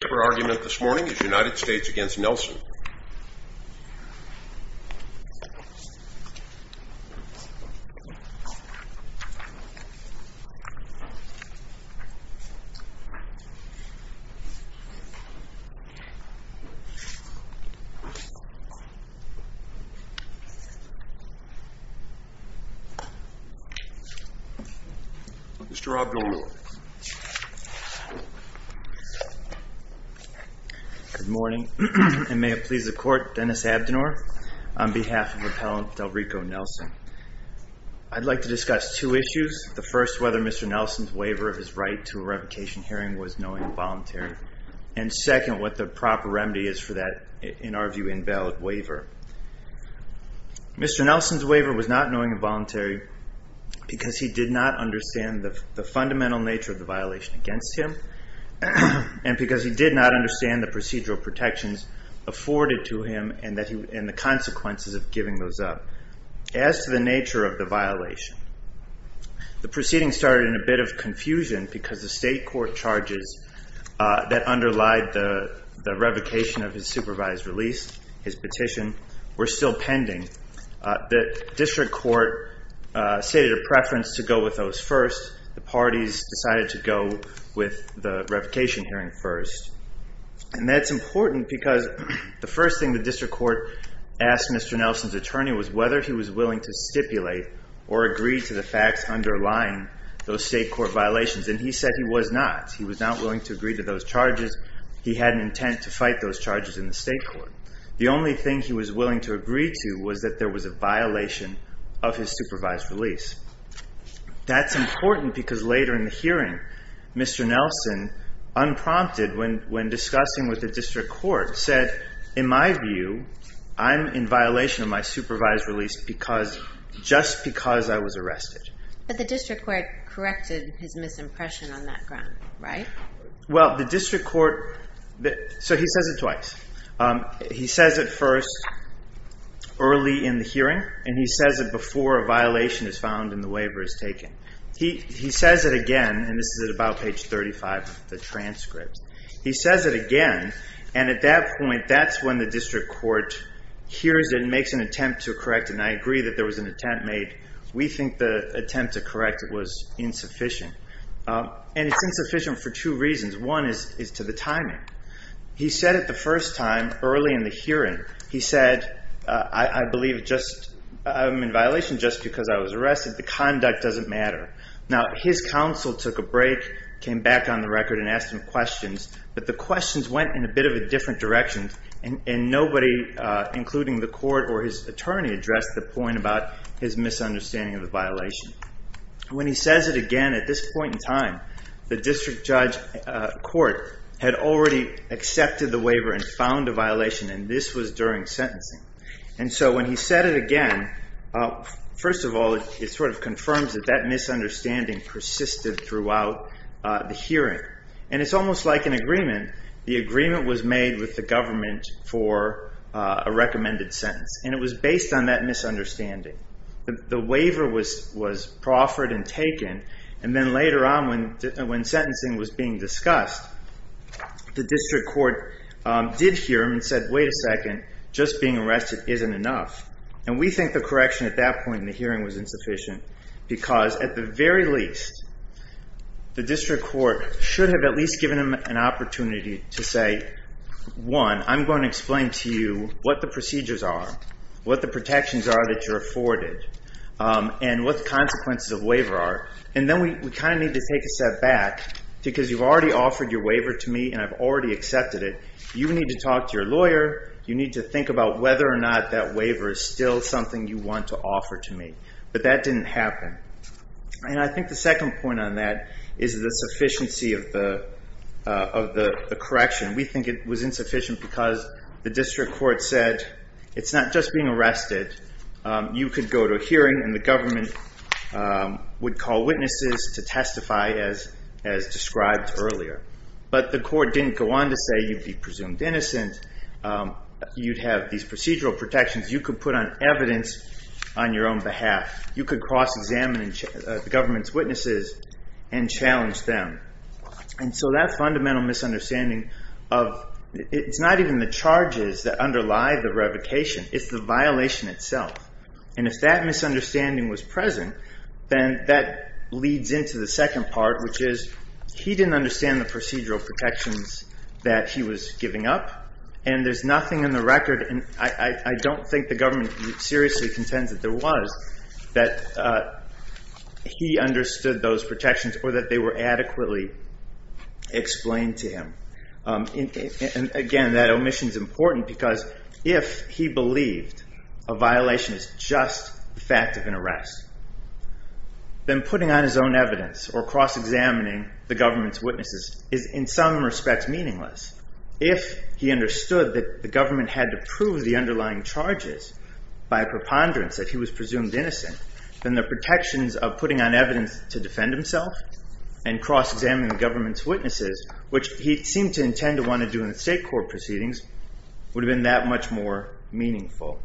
The paper argument this morning is United States v. Nelson. Mr. Abdelnoor Good morning. And may it please the court, Dennis Abdelnoor, on behalf of Appellant Delrico Nelson. I'd like to discuss two issues. The first, whether Mr. Nelson's waiver of his right to a revocation hearing was knowing and voluntary. And second, what the proper remedy is for that, in our view, invalid waiver. Mr. Nelson's waiver was not knowing and voluntary because he did not understand the fundamental nature of the violation against him. And because he did not understand the procedural protections afforded to him and the consequences of giving those up. As to the nature of the violation, the proceeding started in a bit of confusion because the state court charges that underlied the revocation of his supervised release, his petition, were still pending. The district court stated a preference to go with those first. The parties decided to go with the revocation hearing first. And that's important because the first thing the district court asked Mr. Nelson's attorney was whether he was willing to stipulate or agree to the facts underlying those state court violations. And he said he was not. He was not willing to agree to those charges. He had an intent to fight those charges in the state court. The only thing he was willing to agree to was that there was a violation of his supervised release. That's important because later in the hearing, Mr. Nelson, unprompted when discussing with the district court, said, in my view, I'm in violation of my supervised release because, just because I was arrested. But the district court corrected his misimpression on that ground, right? Well, the district court, so he says it twice. He says it first early in the hearing, and he says it before a bond and the waiver is taken. He says it again, and this is at about page 35 of the transcript. He says it again. And at that point, that's when the district court hears it and makes an attempt to correct it. And I agree that there was an attempt made. We think the attempt to correct it was insufficient. And it's insufficient for two reasons. One is to the timing. He said it the first time early in the hearing. He said, I believe it just, I'm in violation just because I was arrested, the conduct doesn't matter. Now his counsel took a break, came back on the record and asked him questions. But the questions went in a bit of a different direction and nobody, including the court or his attorney addressed the point about his misunderstanding of the violation. When he says it again at this point in time, the district judge court had already accepted the waiver and found a violation, and this was during sentencing. And so when he said it again, first of all, it sort of confirms that that misunderstanding persisted throughout the hearing and it's almost like an agreement. The agreement was made with the government for a recommended sentence. And it was based on that misunderstanding. The waiver was proffered and taken. And then later on when sentencing was being discussed, the district court did hear him and said, wait a second, just being arrested isn't enough. And we think the correction at that point in the hearing was insufficient because at the very least, the district court should have at least given him an opportunity to say, one, I'm going to explain to you what the procedures are, what the protections are that you're afforded, and what the consequences of waiver are, and then we kind of need to take a step back because you've already offered your waiver to me and I've already accepted it. You need to talk to your lawyer. You need to think about whether or not that waiver is still something you want to offer to me, but that didn't happen. And I think the second point on that is the sufficiency of the correction. We think it was insufficient because the district court said, it's not just being arrested, you could go to a hearing and the government would call witnesses to testify as described earlier. But the court didn't go on to say you'd be presumed innocent. You'd have these procedural protections. You could put on evidence on your own behalf. You could cross examine the government's witnesses and challenge them. And so that fundamental misunderstanding of, it's not even the charges that underlie the revocation, it's the violation itself. And if that misunderstanding was present, then that leads into the second part, which is, he didn't understand the procedural protections that he was giving up and there's nothing in the record, and I don't think the government seriously contends that there was, that he understood those protections or that they were adequately explained to him. And again, that omission is important because if he believed a violation is just the fact of an arrest, then putting on his own evidence or cross-examining the government's witnesses is, in some respects, meaningless. If he understood that the government had to prove the underlying charges by preponderance, that he was presumed innocent, then the protections of putting on evidence to defend himself and cross-examining the government's witnesses, which he seemed to intend to want to do in the state court proceedings, would have been that much more meaningful.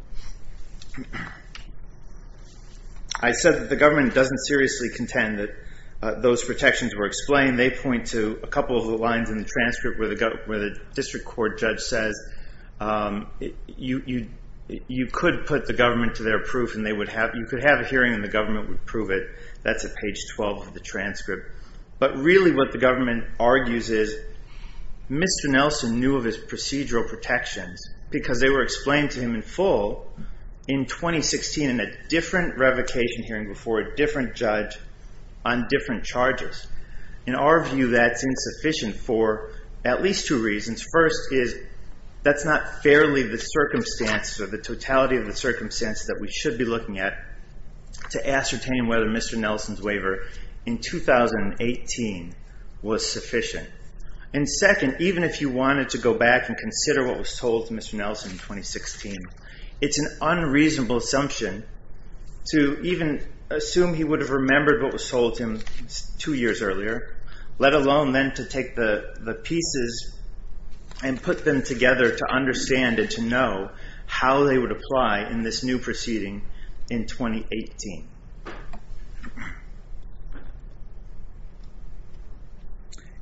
I said that the government doesn't seriously contend that those protections were explained. They point to a couple of the lines in the transcript where the district court judge says, you could put the government to their proof and they would have, you could have a hearing and the government would prove it. That's at page 12 of the transcript. But really what the government argues is, Mr. Nelson knew of his procedural protections because they were explained to him in full in 2016 in a different revocation hearing before a different judge on different charges. In our view, that's insufficient for at least two reasons. First is, that's not fairly the circumstances or the totality of the circumstances that we should be looking at to ascertain whether Mr. Nelson's waiver in 2018 was sufficient. And second, even if you wanted to go back and consider what was told to Mr. Nelson, it's an unreasonable assumption to even assume he would have remembered what was told to him two years earlier, let alone then to take the pieces and put them together to understand and to know how they would apply in this new proceeding in 2018.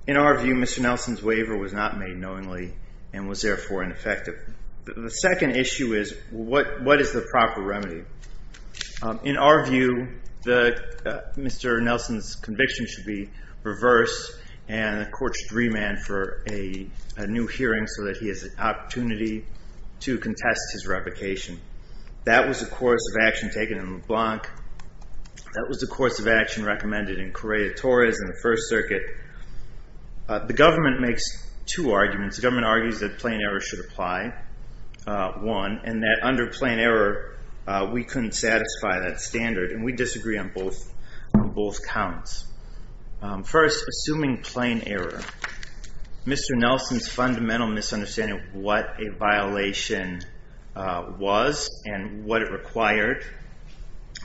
In our view, Mr. Nelson's waiver was not made knowingly and was therefore ineffective. The second issue is, what is the proper remedy? In our view, Mr. Nelson's conviction should be reversed and the court should remand for a new hearing so that he has an opportunity to contest his revocation. That was the course of action taken in LeBlanc. That was the course of action recommended in Correa-Torres in the First Circuit. The government makes two arguments. The government argues that plain error should apply, one, and that under plain error, we couldn't satisfy that standard. And we disagree on both counts. First, assuming plain error, Mr. Nelson's fundamental misunderstanding of what a violation was and what it required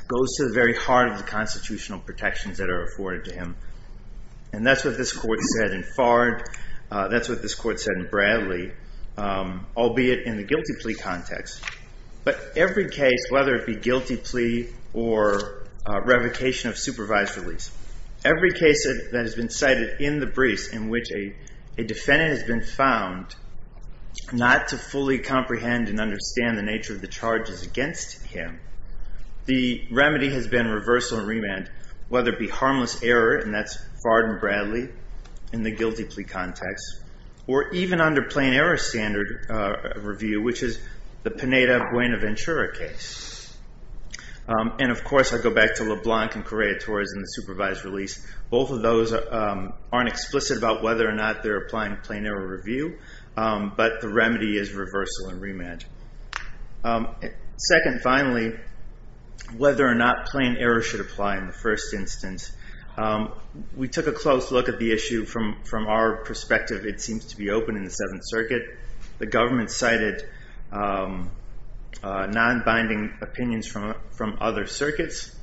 goes to the very heart of the constitutional protections that are afforded to him. And that's what this court said in Fard. That's what this court said in Bradley, albeit in the guilty plea context. But every case, whether it be guilty plea or revocation of supervised release, every case that has been cited in the briefs in which a defendant has been found not to fully comprehend and understand the nature of the charges against him, the remedy has been reversal and remand, whether it be harmless error, and that's in the guilty plea context, or even under plain error standard review, which is the Pineda-Buenaventura case. And of course, I go back to LeBlanc and Correa-Torres in the supervised release. Both of those aren't explicit about whether or not they're applying plain error review, but the remedy is reversal and remand. Second, finally, whether or not plain error should apply in the first instance. We took a close look at the issue from our perspective. It seems to be open in the Seventh Circuit. The government cited non-binding opinions from other circuits.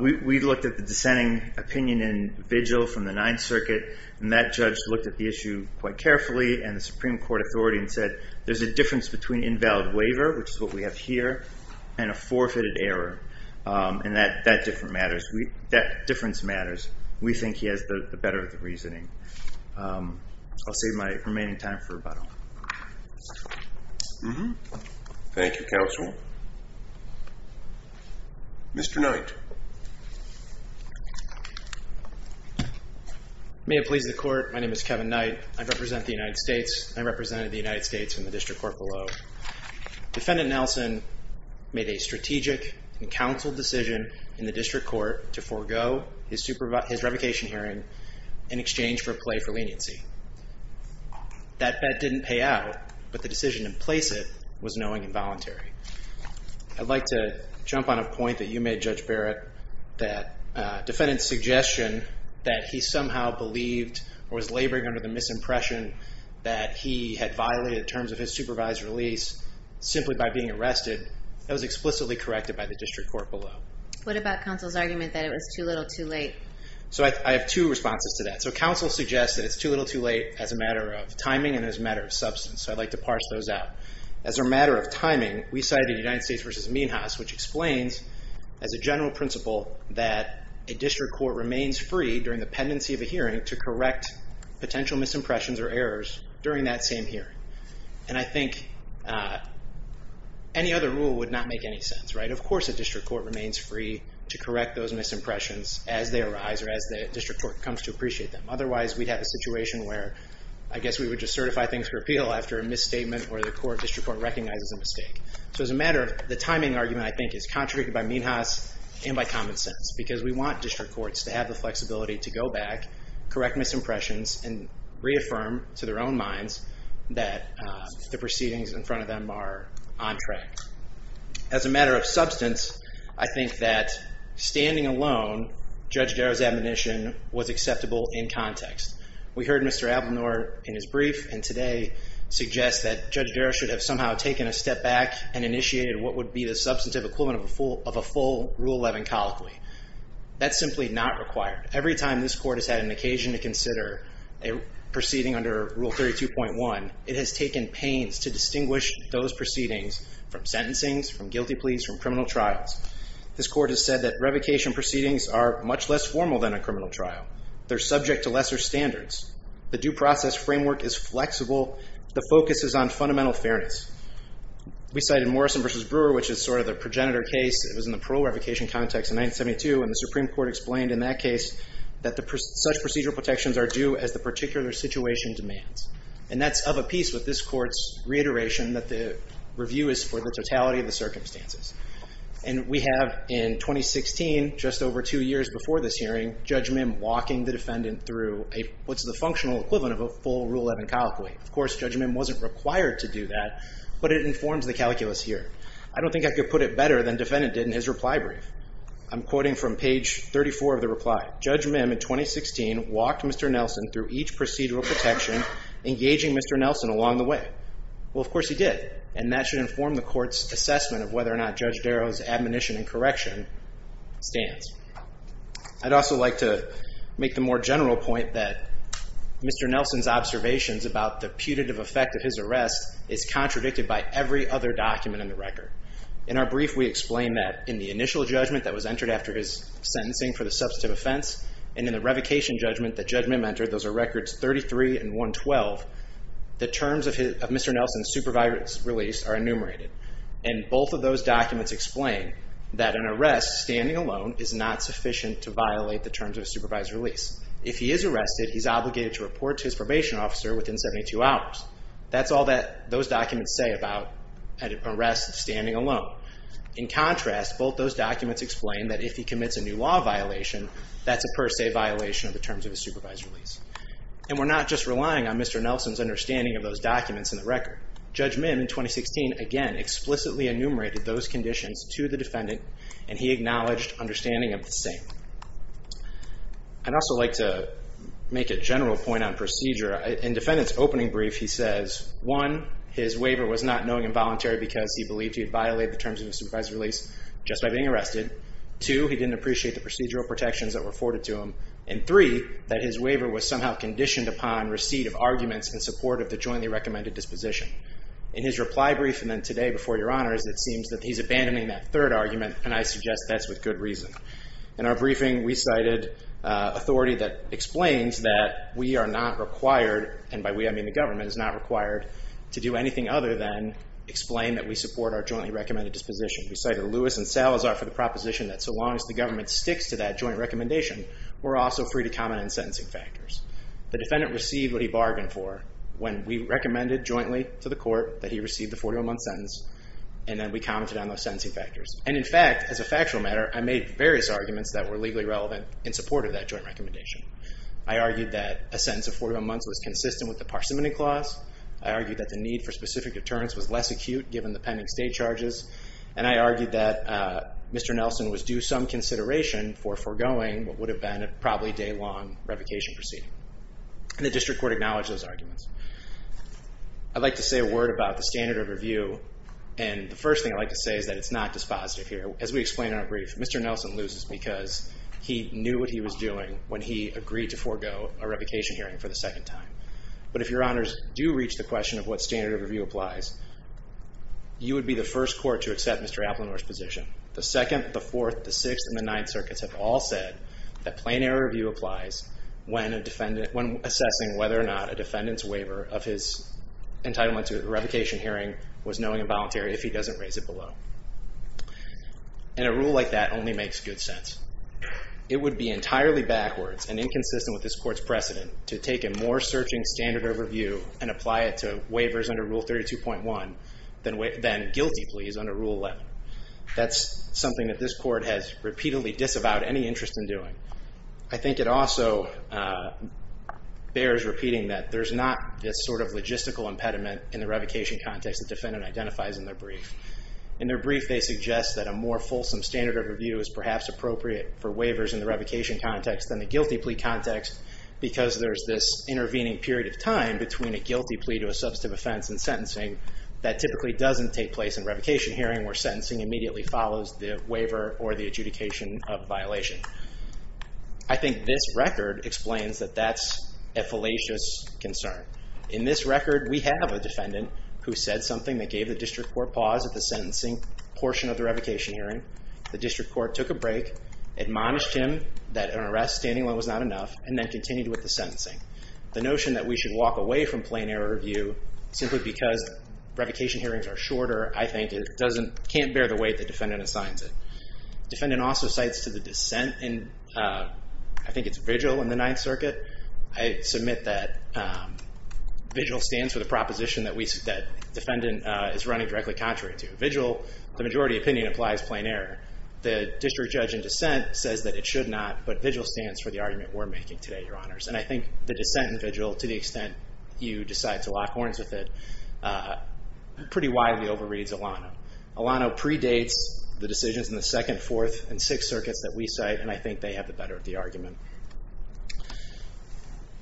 We looked at the dissenting opinion in Vigil from the Ninth Circuit, and that judge looked at the issue quite carefully and the Supreme Court authority and said, there's a difference between invalid waiver, which is what we have here, and a forfeited error, and that different matters. That difference matters. We think he has the better of the reasoning. I'll save my remaining time for about a moment. Thank you, counsel. Mr. Knight. May it please the court. My name is Kevin Knight. I represent the United States. I represented the United States in the district court below. Defendant Nelson made a strategic and counseled decision in the district court to forego his revocation hearing in exchange for a plea for leniency. That bet didn't pay out, but the decision to place it was knowing and voluntary. I'd like to jump on a point that you made, Judge Barrett, that defendant's suggestion that he somehow believed or was laboring under the misimpression that he had violated terms of his supervised release simply by being arrested, that was explicitly corrected by the district court below. What about counsel's argument that it was too little, too late? So I have two responses to that. So counsel suggests that it's too little, too late as a matter of timing and as a matter of substance, so I'd like to parse those out. As a matter of timing, we cited the United States versus Mean House, which explains as a general principle that a district court remains free during the pendency of a hearing to correct potential misimpressions or errors during that same hearing. And I think any other rule would not make any sense, right? Of course, a district court remains free to correct those misimpressions as they arise or as the district court comes to appreciate them. Otherwise, we'd have a situation where I guess we would just certify things for appeal after a misstatement or the court, district court recognizes a mistake. So as a matter of the timing argument, I think, is contradicted by Mean House and by common sense because we want district courts to have the flexibility to go back, correct misimpressions and reaffirm to their own minds that the proceedings in front of them are on track. As a matter of substance, I think that standing alone, Judge Darrow's admonition was acceptable in context. We heard Mr. Ablenor in his brief and today suggests that Judge Darrow should have somehow taken a step back and initiated what would be the substantive equivalent of a full Rule 11 colloquy. That's simply not required. Every time this court has had an occasion to consider a proceeding under Rule 32.1, it has taken pains to distinguish those proceedings from sentencings, from guilty pleas, from criminal trials. This court has said that revocation proceedings are much less formal than a criminal trial. They're subject to lesser standards. The due process framework is flexible. The focus is on fundamental fairness. We cited Morrison v. Brewer, which is sort of the progenitor case. It was in the parole revocation context in 1972 and the Supreme Court explained in that case that such procedural protections are due as the particular situation demands. And that's of a piece with this court's reiteration that the review is for the totality of the circumstances. And we have in 2016, just over two years before this hearing, Judge Mim walking the defendant through what's the functional equivalent of a full Rule 11 colloquy. Of course, Judge Mim wasn't required to do that, but it informs the calculus here. I don't think I could put it better than defendant did in his reply brief. I'm quoting from page 34 of the reply. Judge Mim, in 2016, walked Mr. Nelson through each procedural protection, engaging Mr. Nelson along the way. Well, of course he did. And that should inform the court's assessment of whether or not Judge Darrow's admonition and correction stands. I'd also like to make the more general point that Mr. Nelson's observations about the putative effect of his arrest is contradicted by every other document in the record. In our brief, we explain that in the initial judgment that was entered after his sentencing for the substantive offense, and in the revocation judgment that Judge Mim entered, those are records 33 and 112, the terms of Mr. Nelson's supervised release are enumerated. And both of those documents explain that an arrest standing alone is not sufficient to violate the terms of a supervised release. If he is arrested, he's obligated to report to his probation officer within 72 hours. That's all that those documents say about an arrest standing alone. In contrast, both those documents explain that if he commits a new law violation, that's a per se violation of the terms of a supervised release. And we're not just relying on Mr. Nelson's understanding of those documents in the record. Judge Mim, in 2016, again, explicitly enumerated those conditions to the defendant, and he acknowledged understanding of the same. I'd also like to make a general point on procedure. In defendant's opening brief, he says, one, his waiver was not knowing involuntary because he believed he had violated the terms of his supervised release just by being arrested. Two, he didn't appreciate the procedural protections that were afforded to him. And three, that his waiver was somehow conditioned upon receipt of arguments in support of the jointly recommended disposition. In his reply brief, and then today before your honors, it seems that he's abandoning that third argument, and I suggest that's with good reason. In our briefing, we cited authority that explains that we are not required, and by we I mean the government, is not required to do anything other than explain that we support our jointly recommended disposition. We cited Lewis and Salazar for the proposition that so long as the government sticks to that joint recommendation, we're also free to comment on sentencing factors. The defendant received what he bargained for when we recommended jointly to the court that he received the 41 month sentence, and then we commented on those sentencing factors. And in fact, as a factual matter, I made various arguments that were legally relevant in support of that joint recommendation. I argued that a sentence of 41 months was consistent with the parsimony clause. I argued that the need for specific deterrence was less acute given the pending state charges. And I argued that Mr. Nelson was due some consideration for foregoing what would have been a probably day-long revocation proceeding. And the district court acknowledged those arguments. I'd like to say a word about the standard of review. And the first thing I'd like to say is that it's not dispositive here. As we explain in our brief, Mr. Nelson loses because he knew what he was doing when he agreed to forego a revocation hearing for the second time. But if your honors do reach the question of what standard of review applies, you would be the first court to accept Mr. Applenor's position. The second, the fourth, the sixth, and the ninth circuits have all said that plain error review applies when assessing whether or not a defendant's waiver of his entitlement to a revocation hearing was knowing and voluntary if he doesn't raise it below. And a rule like that only makes good sense. It would be entirely backwards and inconsistent with this court's precedent to take a more searching standard of review and apply it to waivers under Rule 32.1 than guilty pleas under Rule 11. That's something that this court has repeatedly disavowed any interest in doing. I think it also bears repeating that there's not this sort of logistical impediment in the revocation context the defendant identifies in their brief. In their brief, they suggest that a more fulsome standard of review is perhaps appropriate for waivers in the revocation context than the guilty plea context because there's this intervening period of time between a guilty plea to a substantive offense and sentencing that typically doesn't take place in revocation hearing where sentencing immediately follows the waiver or the adjudication of violation. I think this record explains that that's a fallacious concern. In this record, we have a defendant who said something that gave the district court pause at the sentencing portion of the revocation hearing. The district court took a break, admonished him that an arrest standing was not enough, and then continued with the sentencing. The notion that we should walk away from plain error review simply because revocation hearings are shorter, I think, can't bear the weight the defendant assigns it. Defendant also cites to the dissent in, I think, it's VIGIL in the Ninth Circuit. I submit that VIGIL stands for the proposition that defendant is running directly contrary to. VIGIL, the majority opinion, applies plain error. The district judge in dissent says that it should not, but VIGIL stands for the argument we're making today, Your Honors. And I think the dissent in VIGIL, to the extent you decide to lock horns with it, pretty widely overreads ELANO. ELANO predates the decisions in the Second, Fourth, and Sixth Circuits that we cite, and I think they have the better of the argument.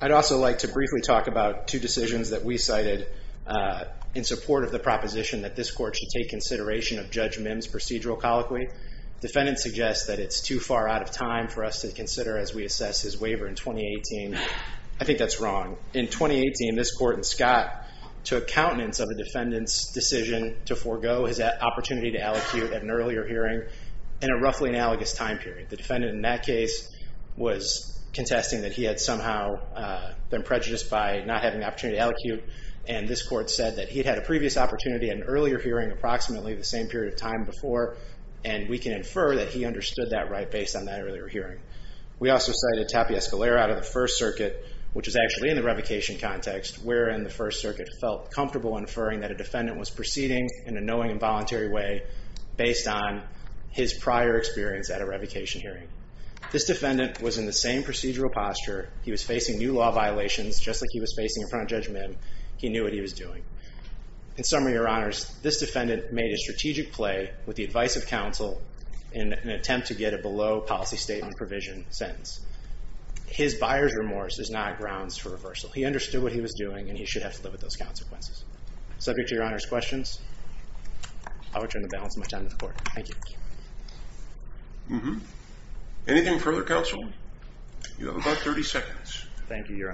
I'd also like to briefly talk about two decisions that we cited in support of the proposition that this court should take consideration of Judge Mims' procedural colloquy. Defendant suggests that it's too far out of time for us to consider as we assess his waiver in 2018. I think that's wrong. In 2018, this court in Scott took countenance of a defendant's decision to forego his opportunity to allocute at an earlier hearing in a roughly analogous time period. The defendant in that case was contesting that he had somehow been prejudiced by not having the opportunity to allocate, and this court said that he'd had a previous opportunity at an earlier hearing approximately the same period of time before, and we can infer that he understood that right based on that earlier hearing. We also cited Tapia Escalera out of the First Circuit, which is actually in the revocation context, wherein the First Circuit felt comfortable inferring that a defendant was proceeding in a knowing and voluntary way based on his prior experience at a revocation hearing. This defendant was in the same procedural posture. He was facing new law violations, just like he was facing in front of Judge Mims. He knew what he was doing. In summary, Your Honors, this defendant made a strategic play with the advice of counsel in an attempt to get a below-policy-statement-provision sentence. His buyer's remorse is not grounds for reversal. He understood what he was doing, and he should have to live with those consequences. Subject to Your Honors' questions? I will turn the balance of my time to the court. Thank you. Anything further, counsel? You have about 30 seconds. Thank you, Your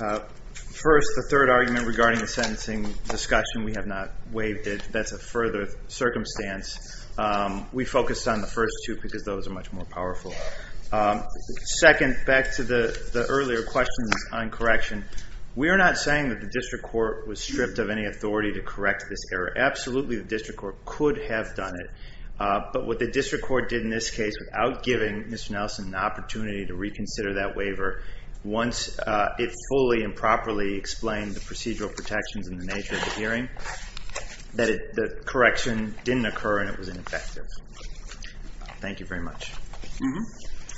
Honor. First, the third argument regarding the sentencing discussion, we have not waived it. That's a further circumstance. We focused on the first two, because those are much more powerful. Second, back to the earlier questions on correction, we are not saying that the district court was stripped of any authority to correct this error. Absolutely, the district court could have done it. But what the district court did in this case without giving Mr. Nelson an opportunity to reconsider that waiver, once it fully and properly explained the procedural protections and the nature of the hearing, that the correction didn't occur and it was ineffective. Thank you very much.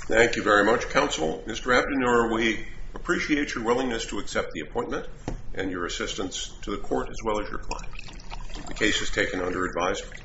Thank you very much, counsel. Mr. Abdenour, we appreciate your willingness to accept the appointment and your assistance to the court, as well as your client. The case is taken under advisement.